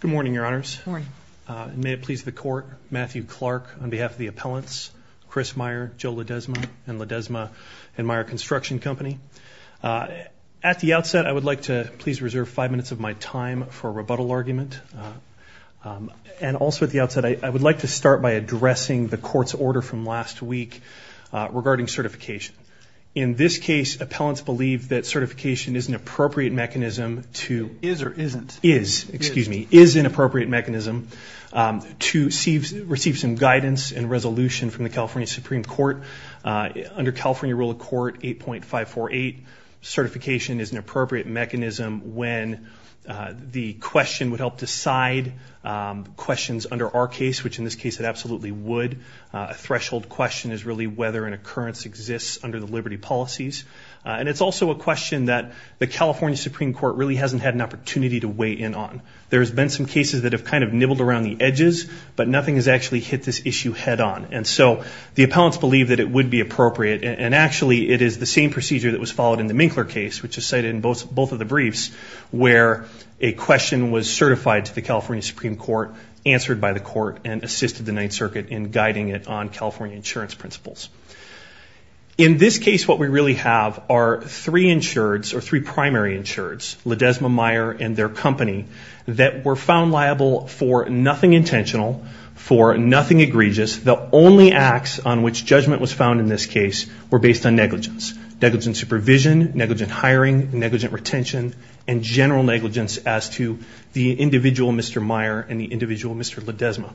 Good morning, Your Honors. Good morning. May it please the Court, Matthew Clark on behalf of the appellants, Chris Meyer, Joe Ledesma and Ledesma and Meyer Construction Company. At the outset, I would like to please reserve five minutes of my time for a rebuttal argument. And also at the outset, I would like to start by addressing the Court's order from last week regarding certification. In this case, appellants believe that certification is an appropriate mechanism to- Is or isn't? Is, excuse me, is an appropriate mechanism to receive some guidance and resolution from the California Supreme Court. Under California Rule of Court 8.548, certification is an appropriate mechanism when the question would help decide questions under our case, which in this case it absolutely would. A threshold question is really whether an occurrence exists under the liberty policies. And it's also a question that the California Supreme Court really hasn't had an opportunity to weigh in on. There's been some cases that have kind of nibbled around the edges, but nothing has actually hit this issue head on. And so the appellants believe that it would be appropriate, and actually it is the same procedure that was followed in the Minkler case, which is cited in both of the briefs, where a question was certified to the California Supreme Court, answered by the court, and assisted the Ninth Circuit in guiding it on California insurance principles. In this case, what we really have are three insureds, or three primary insureds, Ledesma, Meyer, and their company, that were found liable for nothing intentional, for nothing egregious. The only acts on which judgment was found in this case were based on negligence. Negligent supervision, negligent hiring, negligent retention, and general negligence as to the individual Mr. Meyer and the individual Mr. Ledesma.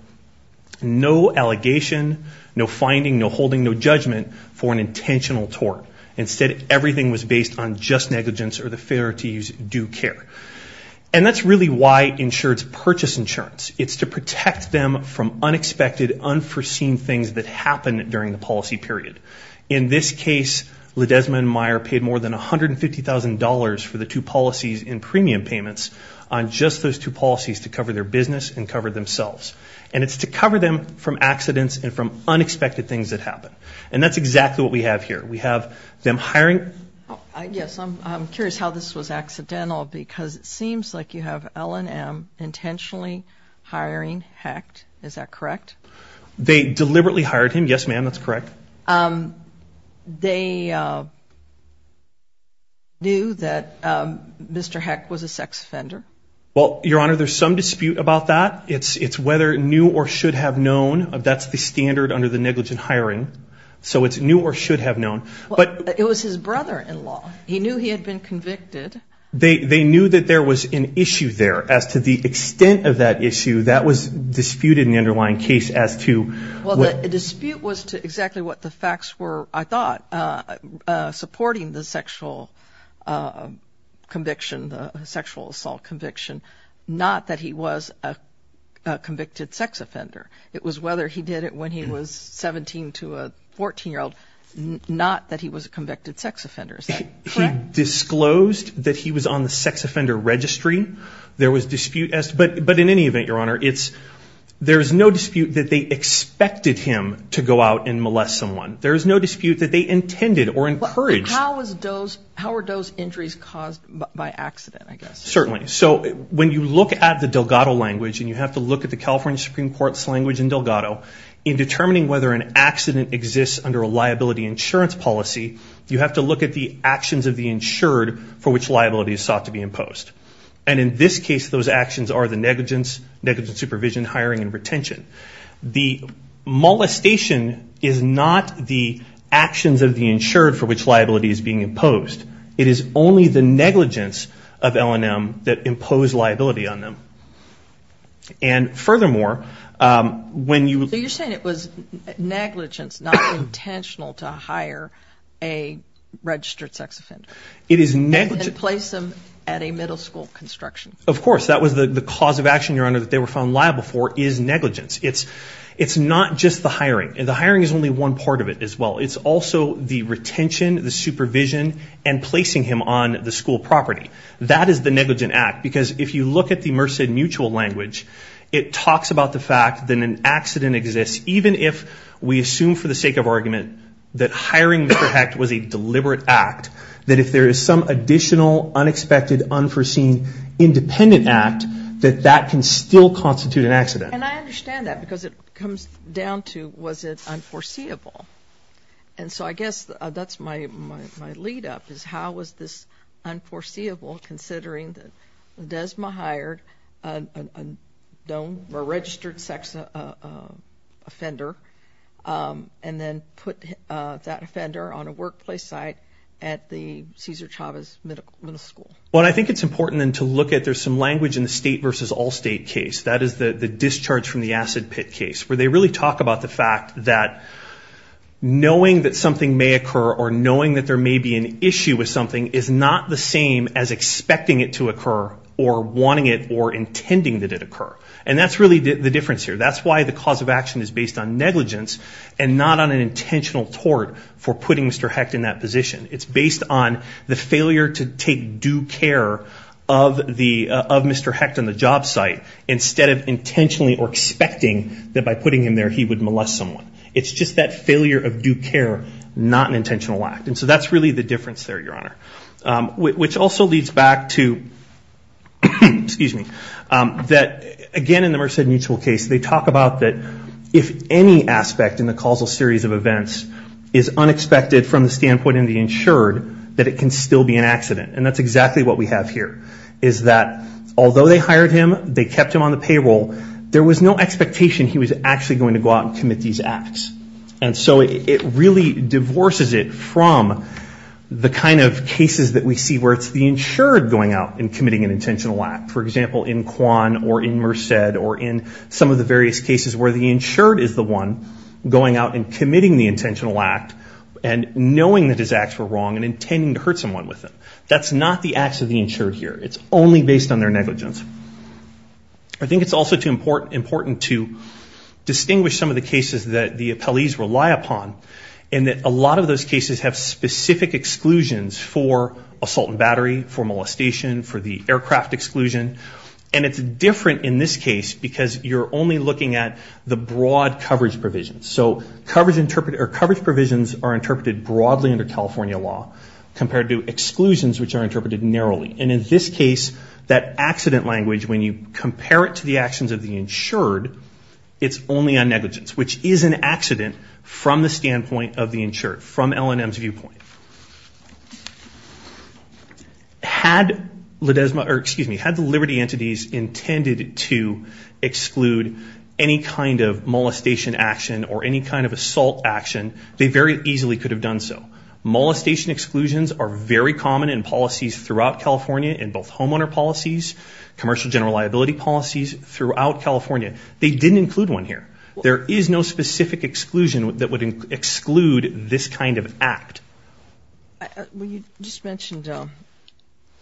No allegation, no finding, no holding, no judgment for an intentional tort. Instead, everything was based on just negligence or the failure to use due care. And that's really why insureds purchase insurance. It's to protect them from unexpected, unforeseen things that happen during the policy period. In this case, Ledesma and Meyer paid more than $150,000 for the two policies in premium payments on just those two policies to cover their business and cover themselves. And it's to cover them from accidents and from unexpected things that happen. And that's exactly what we have here. We have them hiring... Yes, I'm curious how this was accidental, because it seems like you have L&M intentionally hiring Hecht. Is that correct? They deliberately hired him. Yes, ma'am, that's correct. They knew that Mr. Hecht was a sex offender? Well, Your Honor, there's some dispute about that. It's whether knew or should have known. That's the standard under the negligent hiring. So it's knew or should have known. But it was his brother-in-law. He knew he had been convicted. They knew that there was an issue there. As to the extent of that issue, that was disputed in the underlying case as to... Well, the dispute was to exactly what the facts were, I thought, supporting the sexual assault conviction, not that he was a convicted sex offender. It was whether he did it when he was 17 to a 14-year-old, not that he was a convicted sex offender. Is that correct? He disclosed that he was on the sex offender registry. There was dispute, but in any event, Your Honor, there's no dispute that they expected him to go out and molest someone. There's no dispute that they intended or encouraged. How were those injuries caused by accident, I guess? Certainly. So when you look at the Delgado language, and you have to look at the California Supreme Court's language in Delgado, in determining whether an accident exists under a liability insurance policy, you have to look at the actions of the insured for which liability is sought to be imposed. And in this case, those actions are the negligence, negligent supervision, hiring, and retention. The molestation is not the actions of the insured for which liability is being imposed. It is only the negligence of L&M that impose liability on them. And furthermore, when you... So negligence, not intentional to hire a registered sex offender. It is negligent. And place them at a middle school construction. Of course. That was the cause of action, Your Honor, that they were found liable for is negligence. It's not just the hiring. The hiring is only one part of it as well. It's also the retention, the supervision, and placing him on the school property. That is the negligent act, because if you look at the Merced Mutual language, it talks about the fact that an accident exists even if we assume for the sake of argument that hiring Mr. Hecht was a deliberate act, that if there is some additional unexpected unforeseen independent act, that that can still constitute an accident. And I understand that because it comes down to was it unforeseeable. And so I guess that's my lead-up is how was this unforeseeable considering that Desma hired a registered sex offender and then put that offender on a workplace site at the Cesar Chavez Middle School. Well, I think it's important then to look at there's some language in the state versus all-state case. That is the discharge from the acid pit case, where they really talk about the fact that knowing that something may occur or knowing that there may be an issue with something is not the same as expecting it to occur or wanting it or intending that it occur. And that's really the difference here. That's why the cause of action is based on negligence and not on an intentional tort for putting Mr. Hecht in that position. It's based on the failure to take due care of Mr. Hecht on the job site instead of intentionally or expecting that by putting him there he would molest someone. It's just that failure of due care, not an intentional act. And so that's really the difference there, Your Honor. Which also leads back to, again, in the Merced Mutual case, they talk about that if any aspect in the causal series of events is unexpected from the standpoint of the insured, that it can still be an accident. And that's exactly what we have here, is that although they hired him, they kept him on the payroll, there was no expectation he was actually going to go out and commit these acts. And so it really divorces it from the kind of cases that we see where it's the insured going out and committing an intentional act. For example, in Quan or in Merced or in some of the various cases where the insured is the one going out and committing the intentional act and knowing that his acts were wrong and intending to hurt someone with them. That's not the acts of the insured here. It's only based on their negligence. I think it's also important to distinguish some of the cases that the appellees rely upon in that a lot of those cases have specific exclusions for assault and battery, for molestation, for the aircraft exclusion. And it's different in this case because you're only looking at the broad coverage provisions. So coverage provisions are interpreted broadly under California law compared to exclusions, which are interpreted narrowly. And in this case, that accident language, when you compare it to the actions of the insured, it's only on negligence, which is an accident from the standpoint of the insured, from L&M's viewpoint. Had the liberty entities intended to exclude any kind of molestation action or any kind of assault action, they very easily could have done so. Molestation exclusions are very common in policies throughout California, in both homeowner policies, commercial general liability policies throughout California. They didn't include one here. There is no specific exclusion that would exclude this kind of act. Well, you just mentioned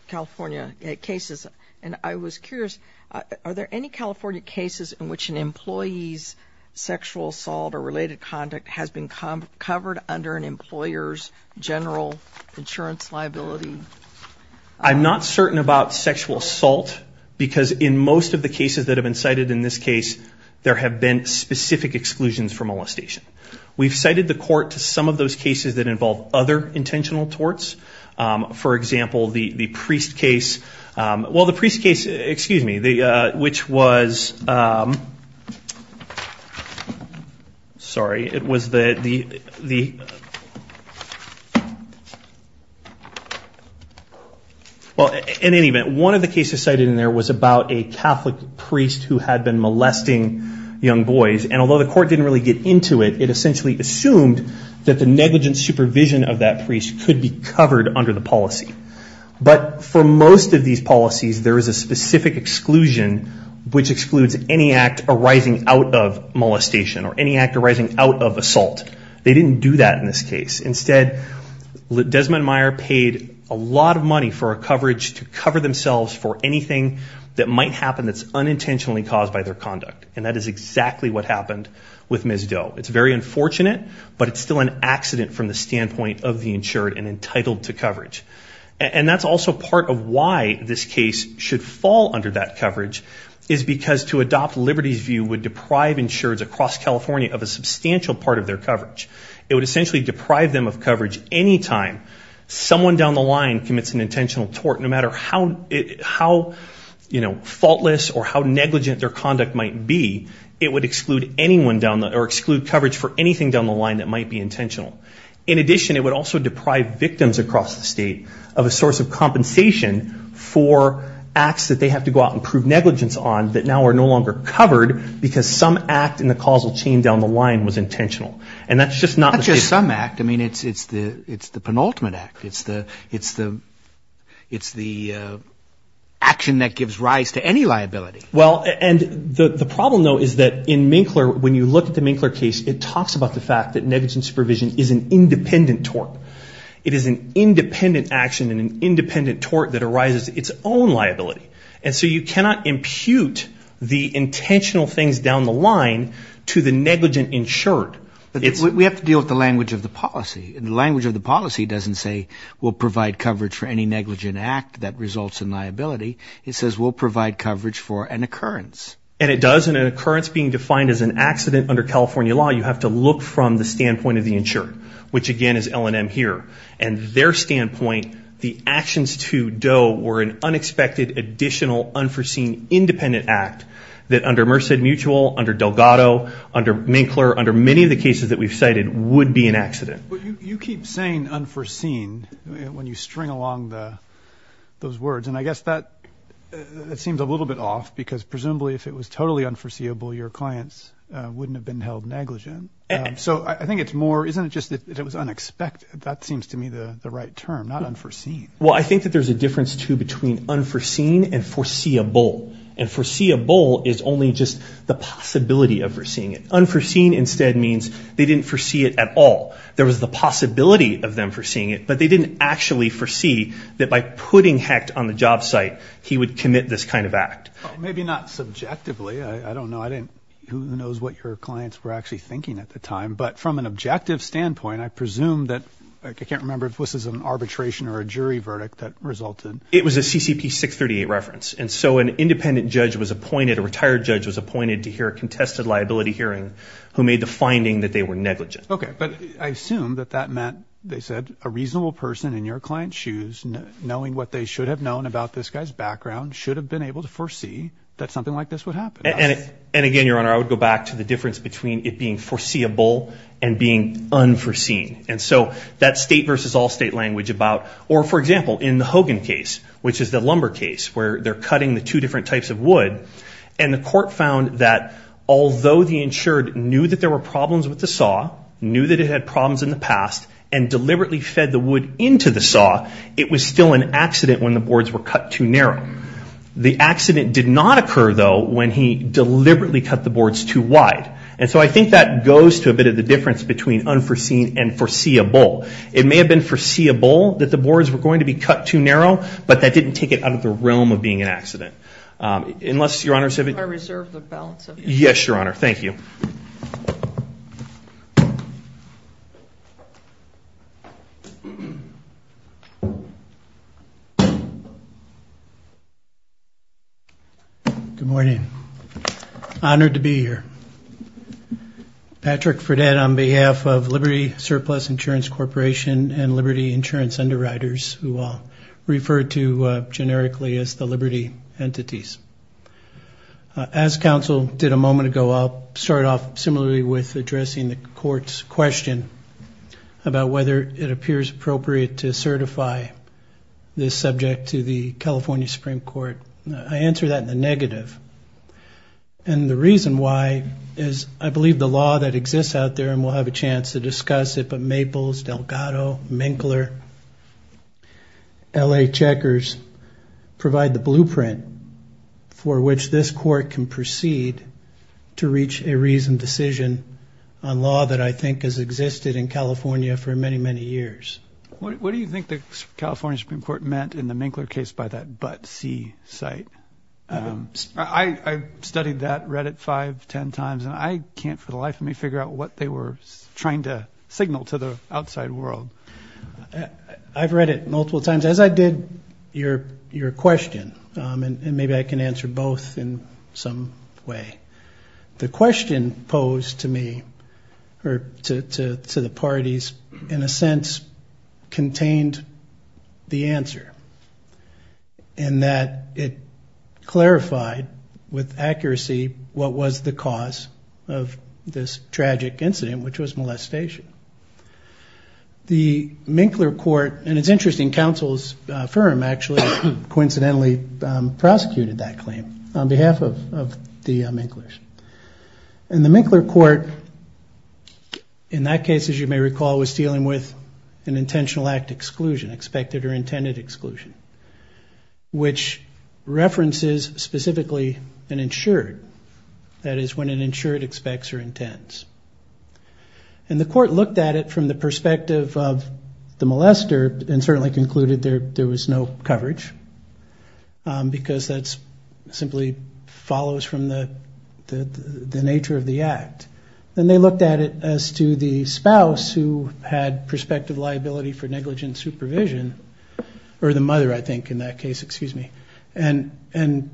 California cases, and I was curious, are there any California cases in which an employee's sexual assault or related conduct has been covered under an employer's general insurance liability? I'm not certain about sexual assault because in most of the cases that have been cited in this case, there have been specific exclusions for molestation. We've cited the court to some of those cases that involve other intentional torts. For example, the priest case. Well, the priest case, excuse me, which was, sorry, it was the, well, in any event, one of the cases cited in there was about a Catholic priest who had been molesting young boys, and although the court didn't really get into it, it essentially assumed that the negligent supervision of that priest could be covered under the policy. But for most of these policies, there is a specific exclusion which excludes any act arising out of molestation or any act arising out of assault. They didn't do that in this case. Instead, Desmond Meyer paid a lot of money for a coverage to cover themselves for anything that might happen that's unintentionally caused by their conduct, and that is exactly what happened with Ms. Doe. It's very unfortunate, but it's still an accident from the standpoint of the insured and entitled to coverage. And that's also part of why this case should fall under that coverage, is because to adopt Liberty's view would deprive insureds across California of a substantial part of their coverage. It would essentially deprive them of coverage any time someone down the line commits an intentional tort, no matter how, you know, faultless or how negligent their conduct might be, it would exclude coverage for anything down the line that might be intentional. In addition, it would also deprive victims across the state of a source of compensation for acts that they have to go out and prove negligence on that now are no longer covered because some act in the causal chain down the line was intentional. And that's just not the case. Not just some act. I mean, it's the penultimate act. It's the action that gives rise to any liability. Well, and the problem, though, is that in Minkler, when you look at the Minkler case, it talks about the fact that negligent supervision is an independent tort. It is an independent action and an independent tort that arises its own liability. And so you cannot impute the intentional things down the line to the negligent insured. We have to deal with the language of the policy. The language of the policy doesn't say we'll provide coverage for any negligent act that results in liability. It says we'll provide coverage for an occurrence. And it does, and an occurrence being defined as an accident under California law, you have to look from the standpoint of the insured, which, again, is L&M here. And their standpoint, the actions to Doe were an unexpected, additional, unforeseen, independent act that under Merced Mutual, under Delgado, under Minkler, under many of the cases that we've cited would be an accident. You keep saying unforeseen when you string along those words. And I guess that seems a little bit off because presumably if it was totally unforeseeable, your clients wouldn't have been held negligent. So I think it's more, isn't it just that it was unexpected? That seems to me the right term, not unforeseen. Well, I think that there's a difference, too, between unforeseen and foreseeable. And foreseeable is only just the possibility of foreseeing it. Unforeseen instead means they didn't foresee it at all. There was the possibility of them foreseeing it, but they didn't actually foresee that by putting Hecht on the job site, he would commit this kind of act. Maybe not subjectively. I don't know. Who knows what your clients were actually thinking at the time. But from an objective standpoint, I presume that, I can't remember if this is an arbitration or a jury verdict that resulted. It was a CCP 638 reference. And so an independent judge was appointed, a retired judge was appointed, to hear a contested liability hearing who made the finding that they were negligent. Okay, but I assume that that meant, they said, a reasonable person in your client's shoes, knowing what they should have known about this guy's background, should have been able to foresee that something like this would happen. And again, Your Honor, I would go back to the difference between it being foreseeable and being unforeseen. And so that state versus all state language about, or for example, in the Hogan case, which is the lumber case where they're cutting the two different types of wood, and the court found that although the insured knew that there were problems with the saw, knew that it had problems in the past, and deliberately fed the wood into the saw, it was still an accident when the boards were cut too narrow. The accident did not occur, though, when he deliberately cut the boards too wide. And so I think that goes to a bit of the difference between unforeseen and foreseeable. It may have been foreseeable that the boards were going to be cut too narrow, but that didn't take it out of the realm of being an accident. Unless, Your Honor, if you could. I reserve the balance of it. Yes, Your Honor. Thank you. Good morning. Honored to be here. Patrick Fredette on behalf of Liberty Surplus Insurance Corporation and Liberty Insurance Underwriters, who I'll refer to generically as the Liberty entities. As counsel did a moment ago, I'll start off similarly with addressing the court's question about whether it appears appropriate to certify this subject to the California Supreme Court. I answer that in the negative. And the reason why is I believe the law that exists out there, and we'll have a chance to discuss it, but Maples, Delgado, Minkler, L.A. Checkers, provide the blueprint for which this court can proceed to reach a reasoned decision on law that I think has existed in California for many, many years. What do you think the California Supreme Court meant in the Minkler case by that but see site? I studied that, read it five, ten times, and I can't for the life of me figure out what they were trying to signal to the outside world. I've read it multiple times. As I did your question, and maybe I can answer both in some way, the question posed to me or to the parties in a sense contained the answer in that it clarified with accuracy what was the cause of this tragic incident, which was molestation. The Minkler court, and it's interesting, counsel's firm actually coincidentally prosecuted that claim on behalf of the Minklers. And the Minkler court in that case, as you may recall, was dealing with an intentional act exclusion, expected or intended exclusion, which references specifically an insured, that is when an insured expects or intends. And the court looked at it from the perspective of the molester and certainly concluded there was no coverage because that simply follows from the nature of the act. Then they looked at it as to the spouse who had prospective liability for negligent supervision, or the mother I think in that case, excuse me, and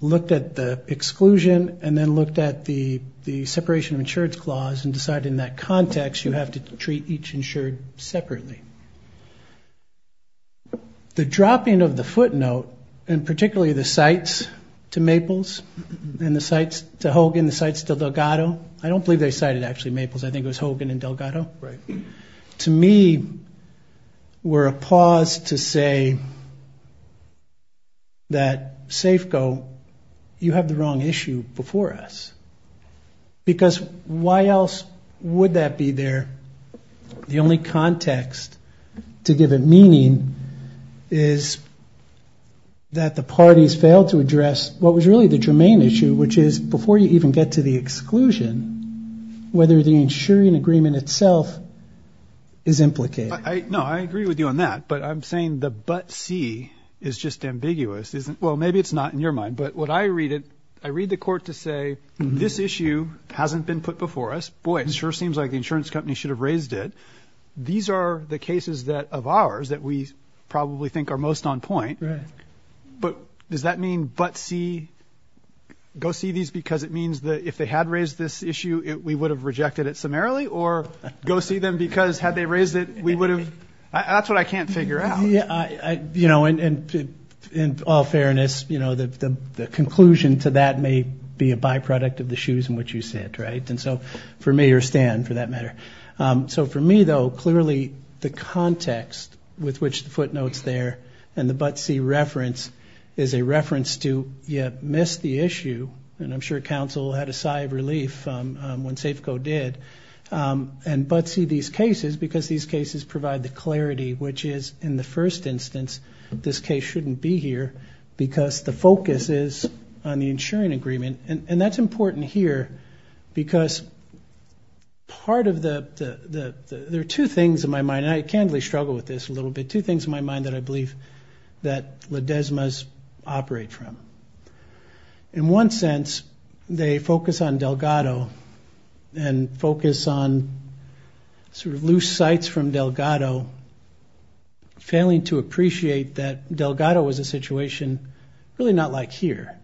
looked at the exclusion and then looked at the separation of insured clause and decided in that context you have to treat each insured separately. The dropping of the footnote, and particularly the cites to Maples and the cites to Hogan, and the cites to Delgado, I don't believe they cited actually Maples, I think it was Hogan and Delgado. To me, we're appalled to say that Safeco, you have the wrong issue before us. Because why else would that be there? The only context to give it meaning is that the parties failed to address what was really the germane issue, which is before you even get to the exclusion, whether the insuring agreement itself is implicated. No, I agree with you on that. But I'm saying the but see is just ambiguous. Well, maybe it's not in your mind. But what I read it, I read the court to say this issue hasn't been put before us. Boy, it sure seems like the insurance company should have raised it. These are the cases that of ours that we probably think are most on point. But does that mean but see, go see these because it means that if they had raised this issue, we would have rejected it summarily or go see them because had they raised it, we would have. That's what I can't figure out. You know, and in all fairness, you know, the conclusion to that may be a byproduct of the shoes in which you sit. Right. And so for me or Stan, for that matter. So for me, though, clearly the context with which the footnotes there and the but see reference is a reference to you missed the issue. And I'm sure counsel had a sigh of relief when Safeco did. And but see these cases because these cases provide the clarity, which is in the first instance, this case shouldn't be here because the focus is on the insuring agreement. And that's important here because part of the there are two things in my mind. I can't really struggle with this a little bit, two things in my mind that I believe that the desmos operate from. In one sense, they focus on Delgado and focus on sort of loose sites from Delgado. Failing to appreciate that Delgado was a situation really not like here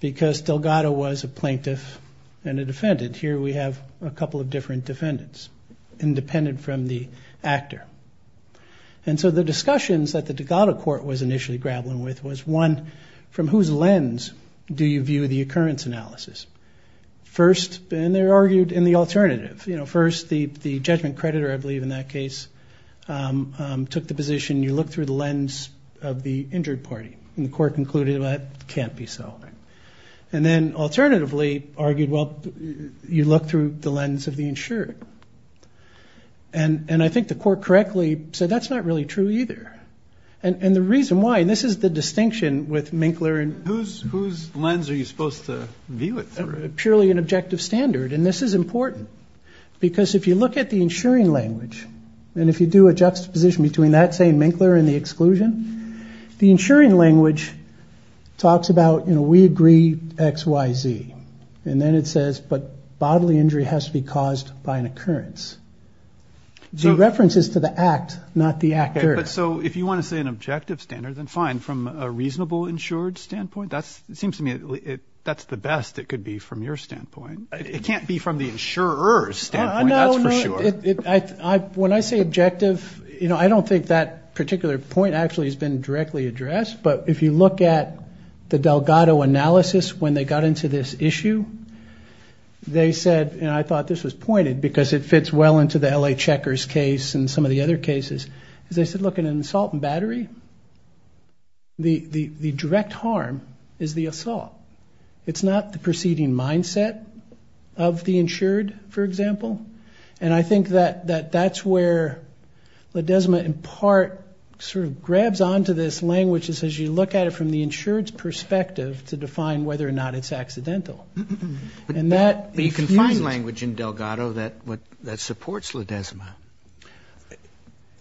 because Delgado was a plaintiff and a defendant. Here we have a couple of different defendants independent from the actor. And so the discussions that the Dakota court was initially grappling with was one from whose lens do you view the occurrence analysis first? And they argued in the alternative. First, the judgment creditor, I believe in that case, took the position. You look through the lens of the injured party and the court concluded that can't be so. And then alternatively argued, well, you look through the lens of the insured. And I think the court correctly said that's not really true either. And the reason why this is the distinction with Minkler and whose lens are you supposed to view it? It's purely an objective standard. And this is important because if you look at the insuring language and if you do a juxtaposition between that same Minkler and the exclusion, the insuring language talks about, you know, we agree X, Y, Z. And then it says, but bodily injury has to be caused by an occurrence. So references to the act, not the actor. So if you want to say an objective standard, then fine. From a reasonable insured standpoint, that seems to me that's the best it could be from your standpoint. It can't be from the insurer's standpoint. That's for sure. When I say objective, you know, I don't think that particular point actually has been directly addressed. But if you look at the Delgado analysis, when they got into this issue, they said, and I thought this was pointed because it fits well into the L.A. The direct harm is the assault. It's not the preceding mindset of the insured, for example. And I think that that's where Ledesma in part sort of grabs onto this language as you look at it from the insured's perspective to define whether or not it's accidental. But you can find language in Delgado that supports Ledesma.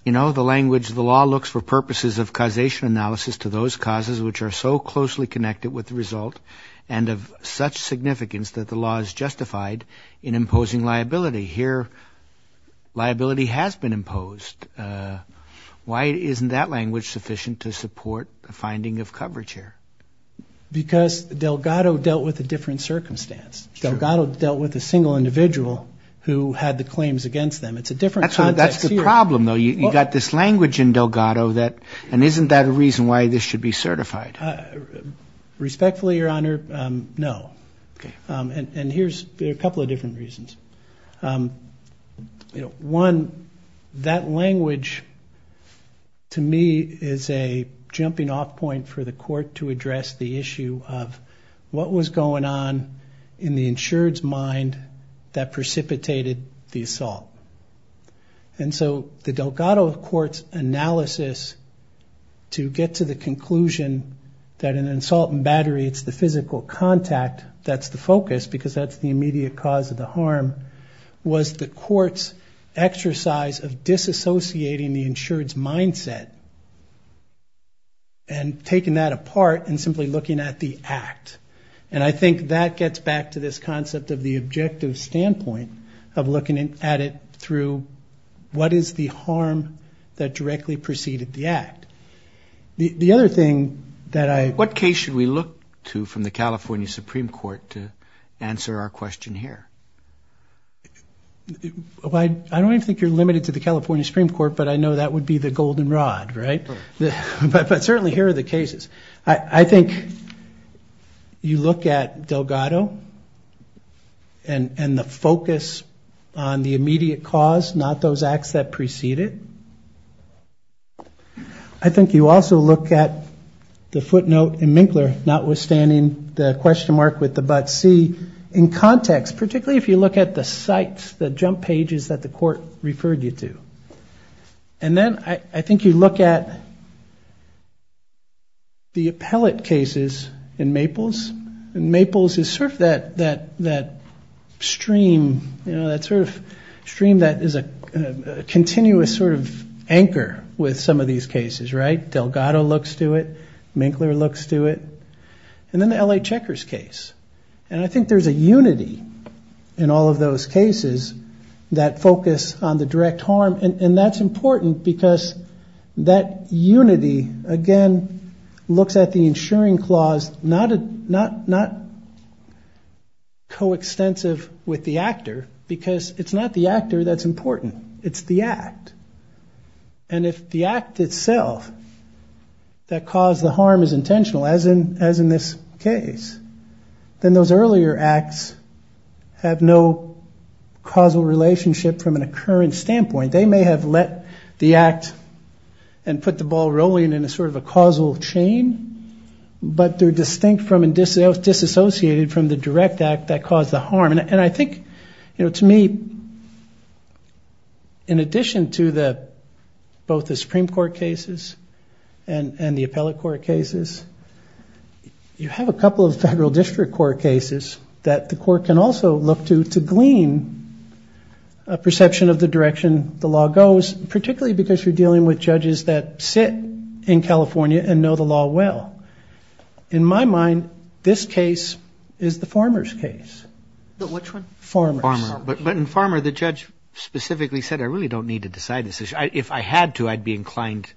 You know, the language, the law looks for purposes of causation analysis to those causes which are so closely connected with the result and of such significance that the law is justified in imposing liability. Here, liability has been imposed. Why isn't that language sufficient to support the finding of coverage here? Because Delgado dealt with a different circumstance. Delgado dealt with a single individual who had the claims against them. It's a different context here. That's the problem, though. You've got this language in Delgado that, and isn't that a reason why this should be certified? Respectfully, Your Honor, no. And here's a couple of different reasons. You know, one, that language to me is a jumping off point for the court to address the issue of what was going on in the insured's mind that precipitated the assault. And so the Delgado court's analysis to get to the conclusion that an assault in battery, it's the physical contact that's the focus because that's the immediate cause of the harm, was the court's exercise of disassociating the insured's mindset and taking that apart and simply looking at the act. And I think that gets back to this concept of the objective standpoint of looking at it through what is the harm that directly preceded the act. The other thing that I... I don't think you're limited to the California Supreme Court, but I know that would be the golden rod, right? But certainly here are the cases. I think you look at Delgado and the focus on the immediate cause, not those acts that preceded. I think you also look at the footnote in Minkler, notwithstanding the question mark with the butt C, in context. Particularly if you look at the sites, the jump pages that the court referred you to. And then I think you look at the appellate cases in Maples. And Maples is sort of that stream, you know, that sort of stream that is a continuous sort of stream of cases. And you sort of anchor with some of these cases, right? Delgado looks to it. Minkler looks to it. And then the L.A. Checkers case. And I think there's a unity in all of those cases that focus on the direct harm. And that's important because that unity, again, looks at the insuring clause not coextensive with the actor, because it's not the actor that's important. It's the act. And if the act itself that caused the harm is intentional, as in this case, then those earlier acts have no causal relationship from an occurrence standpoint. They may have let the act and put the ball rolling in a sort of a causal chain. But they're distinct from and disassociated from the direct act that caused the harm. And I think, you know, to me, in addition to both the Supreme Court cases and the appellate court cases, you have a couple of federal district court cases that the court can also look to to glean a perception of the direction the law goes, particularly because you're dealing with judges that sit in California and know the law well. In my mind, this case is the Farmer's case. But in Farmer, the judge specifically said, I really don't need to decide this issue. If I had to, I'd be inclined.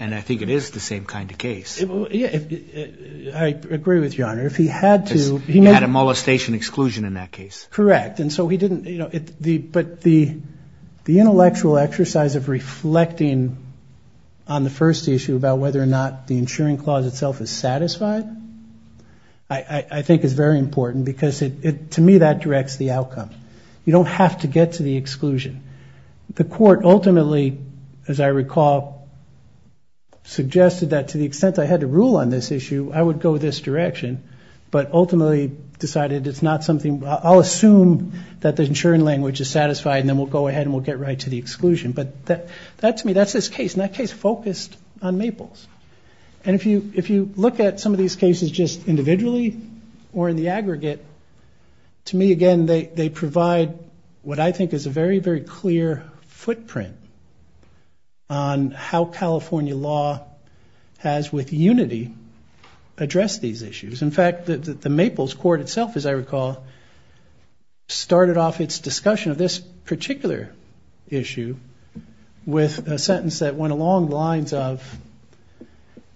And I think it is the same kind of case. I agree with you, Your Honor. If he had to, he had a molestation exclusion in that case. Correct. And so he didn't, you know, but the intellectual exercise of reflecting on the first issue about whether or not the insuring clause is itself is satisfied, I think is very important, because to me, that directs the outcome. You don't have to get to the exclusion. The court ultimately, as I recall, suggested that to the extent I had to rule on this issue, I would go this direction, but ultimately decided it's not something. I'll assume that the insuring language is satisfied and then we'll go ahead and we'll get right to the exclusion. But that, to me, that's this case, and that case focused on Maples. And if you look at some of these cases just individually or in the aggregate, to me, again, they provide what I think is a very, very clear footprint on how California law has, with unity, addressed these issues. In fact, the Maples court itself, as I recall, started off its discussion of this particular issue with a sentence that went along the lines of,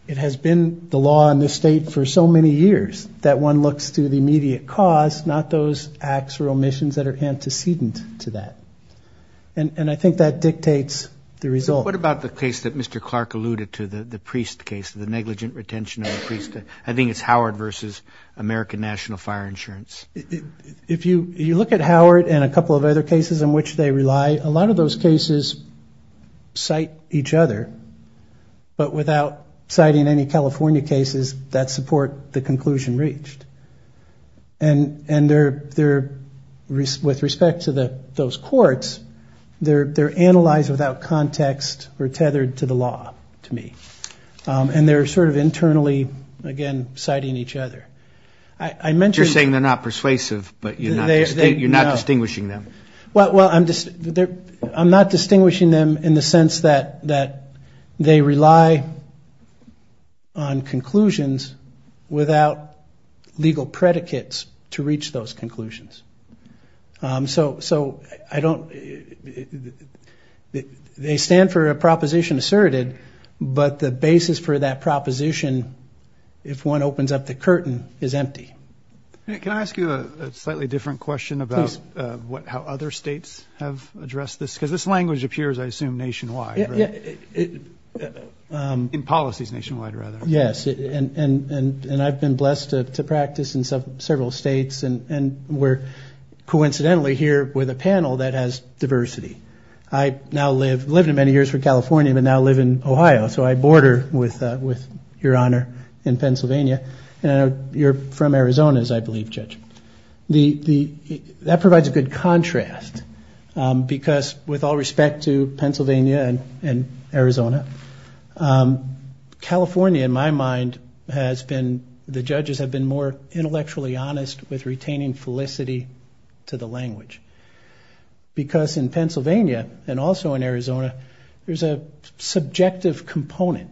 it has been the law in this state for so many years that one looks to the immediate cause, not those acts or omissions that are antecedent to that. And I think that dictates the result. What about the case that Mr. Clark alluded to, the Priest case, the negligent retention of the priest? I think it's Howard versus American National Fire Insurance. If you look at Howard and a couple of other cases in which they rely, a lot of those cases cite each other. But without citing any California cases that support the conclusion reached. And with respect to those courts, they're analyzed without context or tethered to the law, to me. And they're sort of internally, again, citing each other. I mentioned... You're saying they're not persuasive, but you're not distinguishing them. Well, I'm not distinguishing them in the sense that they rely on conclusions without legal predicates to reach those conclusions. So I don't... They stand for a proposition asserted, but the basis for that proposition, if one opens up the curtain, is empty. Can I ask you a slightly different question about how other states have addressed this? Because this language appears, I assume, nationwide. In policies nationwide, rather. Yes. And I've been blessed to practice in several states, and we're coincidentally here with a panel that has diversity. I now live... Lived in many years for California, but now live in Ohio, so I border with Your Honor in Pennsylvania. And you're from Arizona, as I believe, Judge. That provides a good contrast, because with all respect to Pennsylvania and Arizona, California, in my opinion, is a very diverse state. And in my mind, has been... The judges have been more intellectually honest with retaining felicity to the language. Because in Pennsylvania, and also in Arizona, there's a subjective component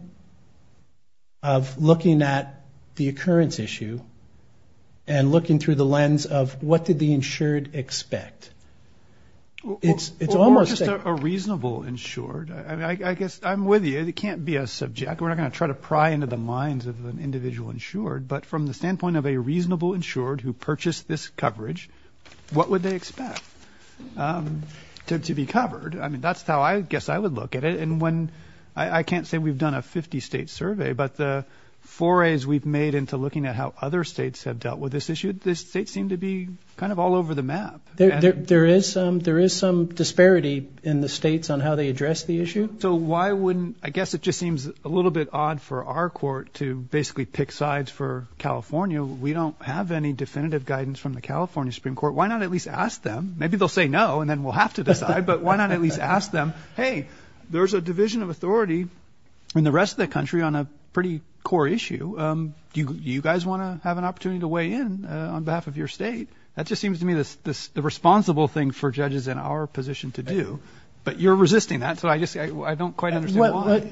of looking at the occurrence issue, and looking through the lens of, what did the insured expect? It's almost... Or just a reasonable insured. I guess I'm with you. It can't be a subject. We're not going to try to pry into the minds of an individual insured. But from the standpoint of a reasonable insured who purchased this coverage, what would they expect to be covered? I mean, that's how I guess I would look at it. And when... I can't say we've done a 50-state survey, but the forays we've made into looking at how other states have dealt with this issue, this state seemed to be kind of all over the map. There is some disparity in the states on how they address the issue. So why wouldn't... I guess it just seems a little bit odd for our court to basically pick sides for California. We don't have any definitive guidance from the California Supreme Court. Why not at least ask them? Maybe they'll say no, and then we'll have to decide, but why not at least ask them, hey, there's a division of authority in the rest of the country on a pretty core issue. Do you guys want to have an opportunity to weigh in on behalf of your state? That just seems to me the responsible thing for judges in our position to do. But you're resisting that, so I just... I don't quite understand why.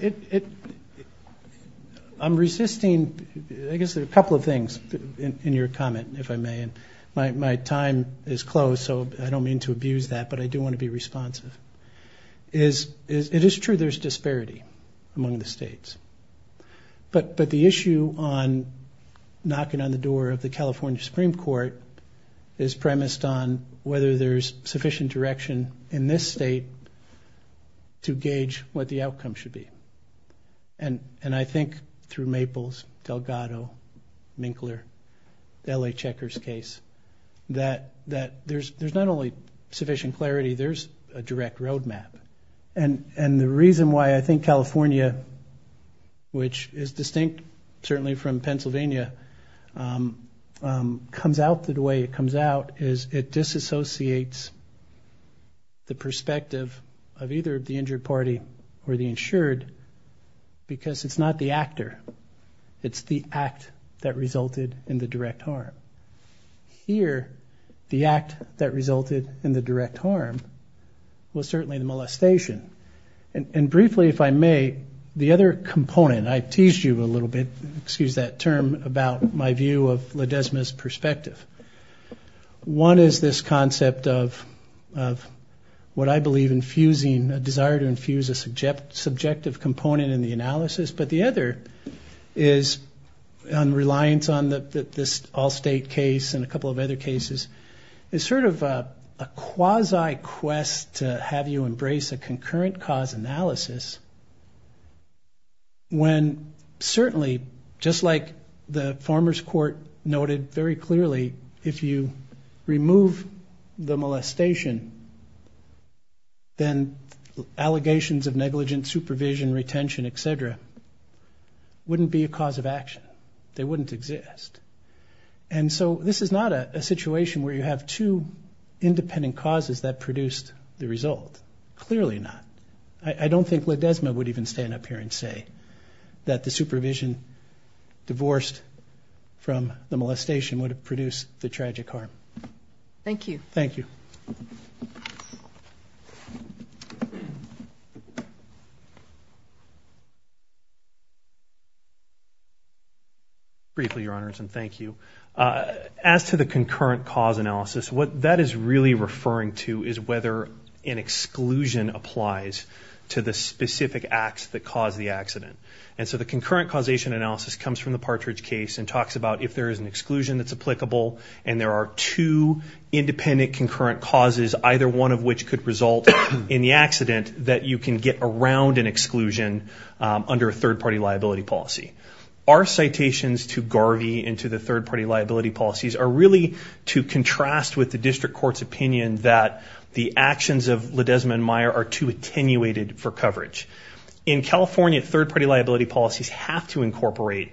I'm resisting... I guess there are a couple of things in your comment, if I may. My time is closed, so I don't mean to abuse that, but I do want to be responsive. It is true there's disparity among the states, but the issue on knocking on the door of the California Supreme Court is premised on whether there's sufficient direction in this state to gauge what the outcome should be. And I think through Maples, Delgado, Minkler, L.A. Checker's case, that there's not only sufficient clarity, there's a direction to be taken. And I think that's a direct road map. And the reason why I think California, which is distinct certainly from Pennsylvania, comes out the way it comes out is it disassociates the perspective of either the injured party or the insured, because it's not the actor, it's the act that resulted in the direct harm. But here, the act that resulted in the direct harm was certainly the molestation. And briefly, if I may, the other component, I teased you a little bit, excuse that term, about my view of LaDesma's perspective. One is this concept of what I believe infusing, a desire to infuse a subjective component in the analysis. But the other is, on reliance on this Allstate case and a couple of other cases, is sort of a quasi-quest to have you embrace a concurrent cause analysis, when certainly, just like the Farmer's Court noted very clearly, if you remove the molestation, then allegations of negligence, supervision, retention, etc. wouldn't be a cause of action. They wouldn't exist. And so, this is not a situation where you have two independent causes that produced the result. Clearly not. I don't think LaDesma would even stand up here and say that the supervision divorced from the molestation would have produced the tragic harm. Thank you. Briefly, Your Honors, and thank you. As to the concurrent cause analysis, what that is really referring to is whether an exclusion applies to the specific acts that caused the accident. And so, the concurrent causation analysis comes from the Partridge case and talks about if there is an exclusion that's applicable and there are two independent concurrent causes, either one of which could result in the accident, that you can get around an exclusion under a third party. And so, the third party liability policy, our citations to Garvey and to the third party liability policies are really to contrast with the district court's opinion that the actions of LaDesma and Meyer are too attenuated for coverage. In California, third party liability policies have to incorporate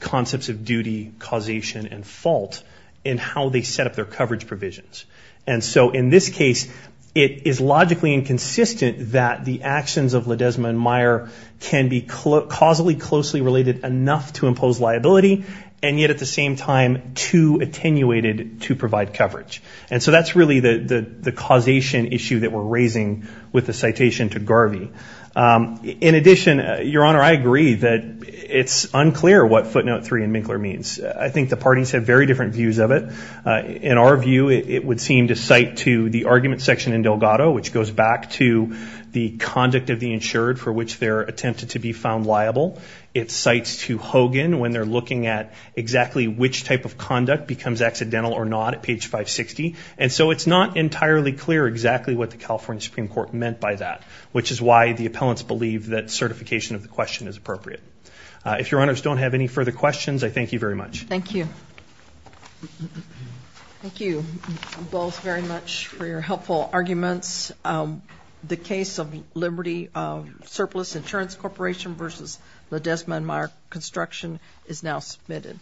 concepts of duty, causation, and fault in how they set up their coverage provisions. And so, in this case, it is logically inconsistent that the actions of LaDesma and Meyer can be caused by a third party liability policy. They are causally closely related enough to impose liability, and yet at the same time, too attenuated to provide coverage. And so, that's really the causation issue that we're raising with the citation to Garvey. In addition, Your Honor, I agree that it's unclear what footnote three in Minkler means. I think the parties have very different views of it. In our view, it would seem to cite to the argument section in Delgado, which goes back to the conduct of the insured for which they're attempted to be found liable. It cites to Hogan when they're looking at exactly which type of conduct becomes accidental or not at page 560. And so, it's not entirely clear exactly what the California Supreme Court meant by that, which is why the appellants believe that certification of the question is appropriate. If Your Honors don't have any further questions, I thank you very much. Thank you. Thank you both very much for your helpful arguments. The case of Liberty Surplus Insurance Corporation versus Ledesma and Meyer Construction is now submitted.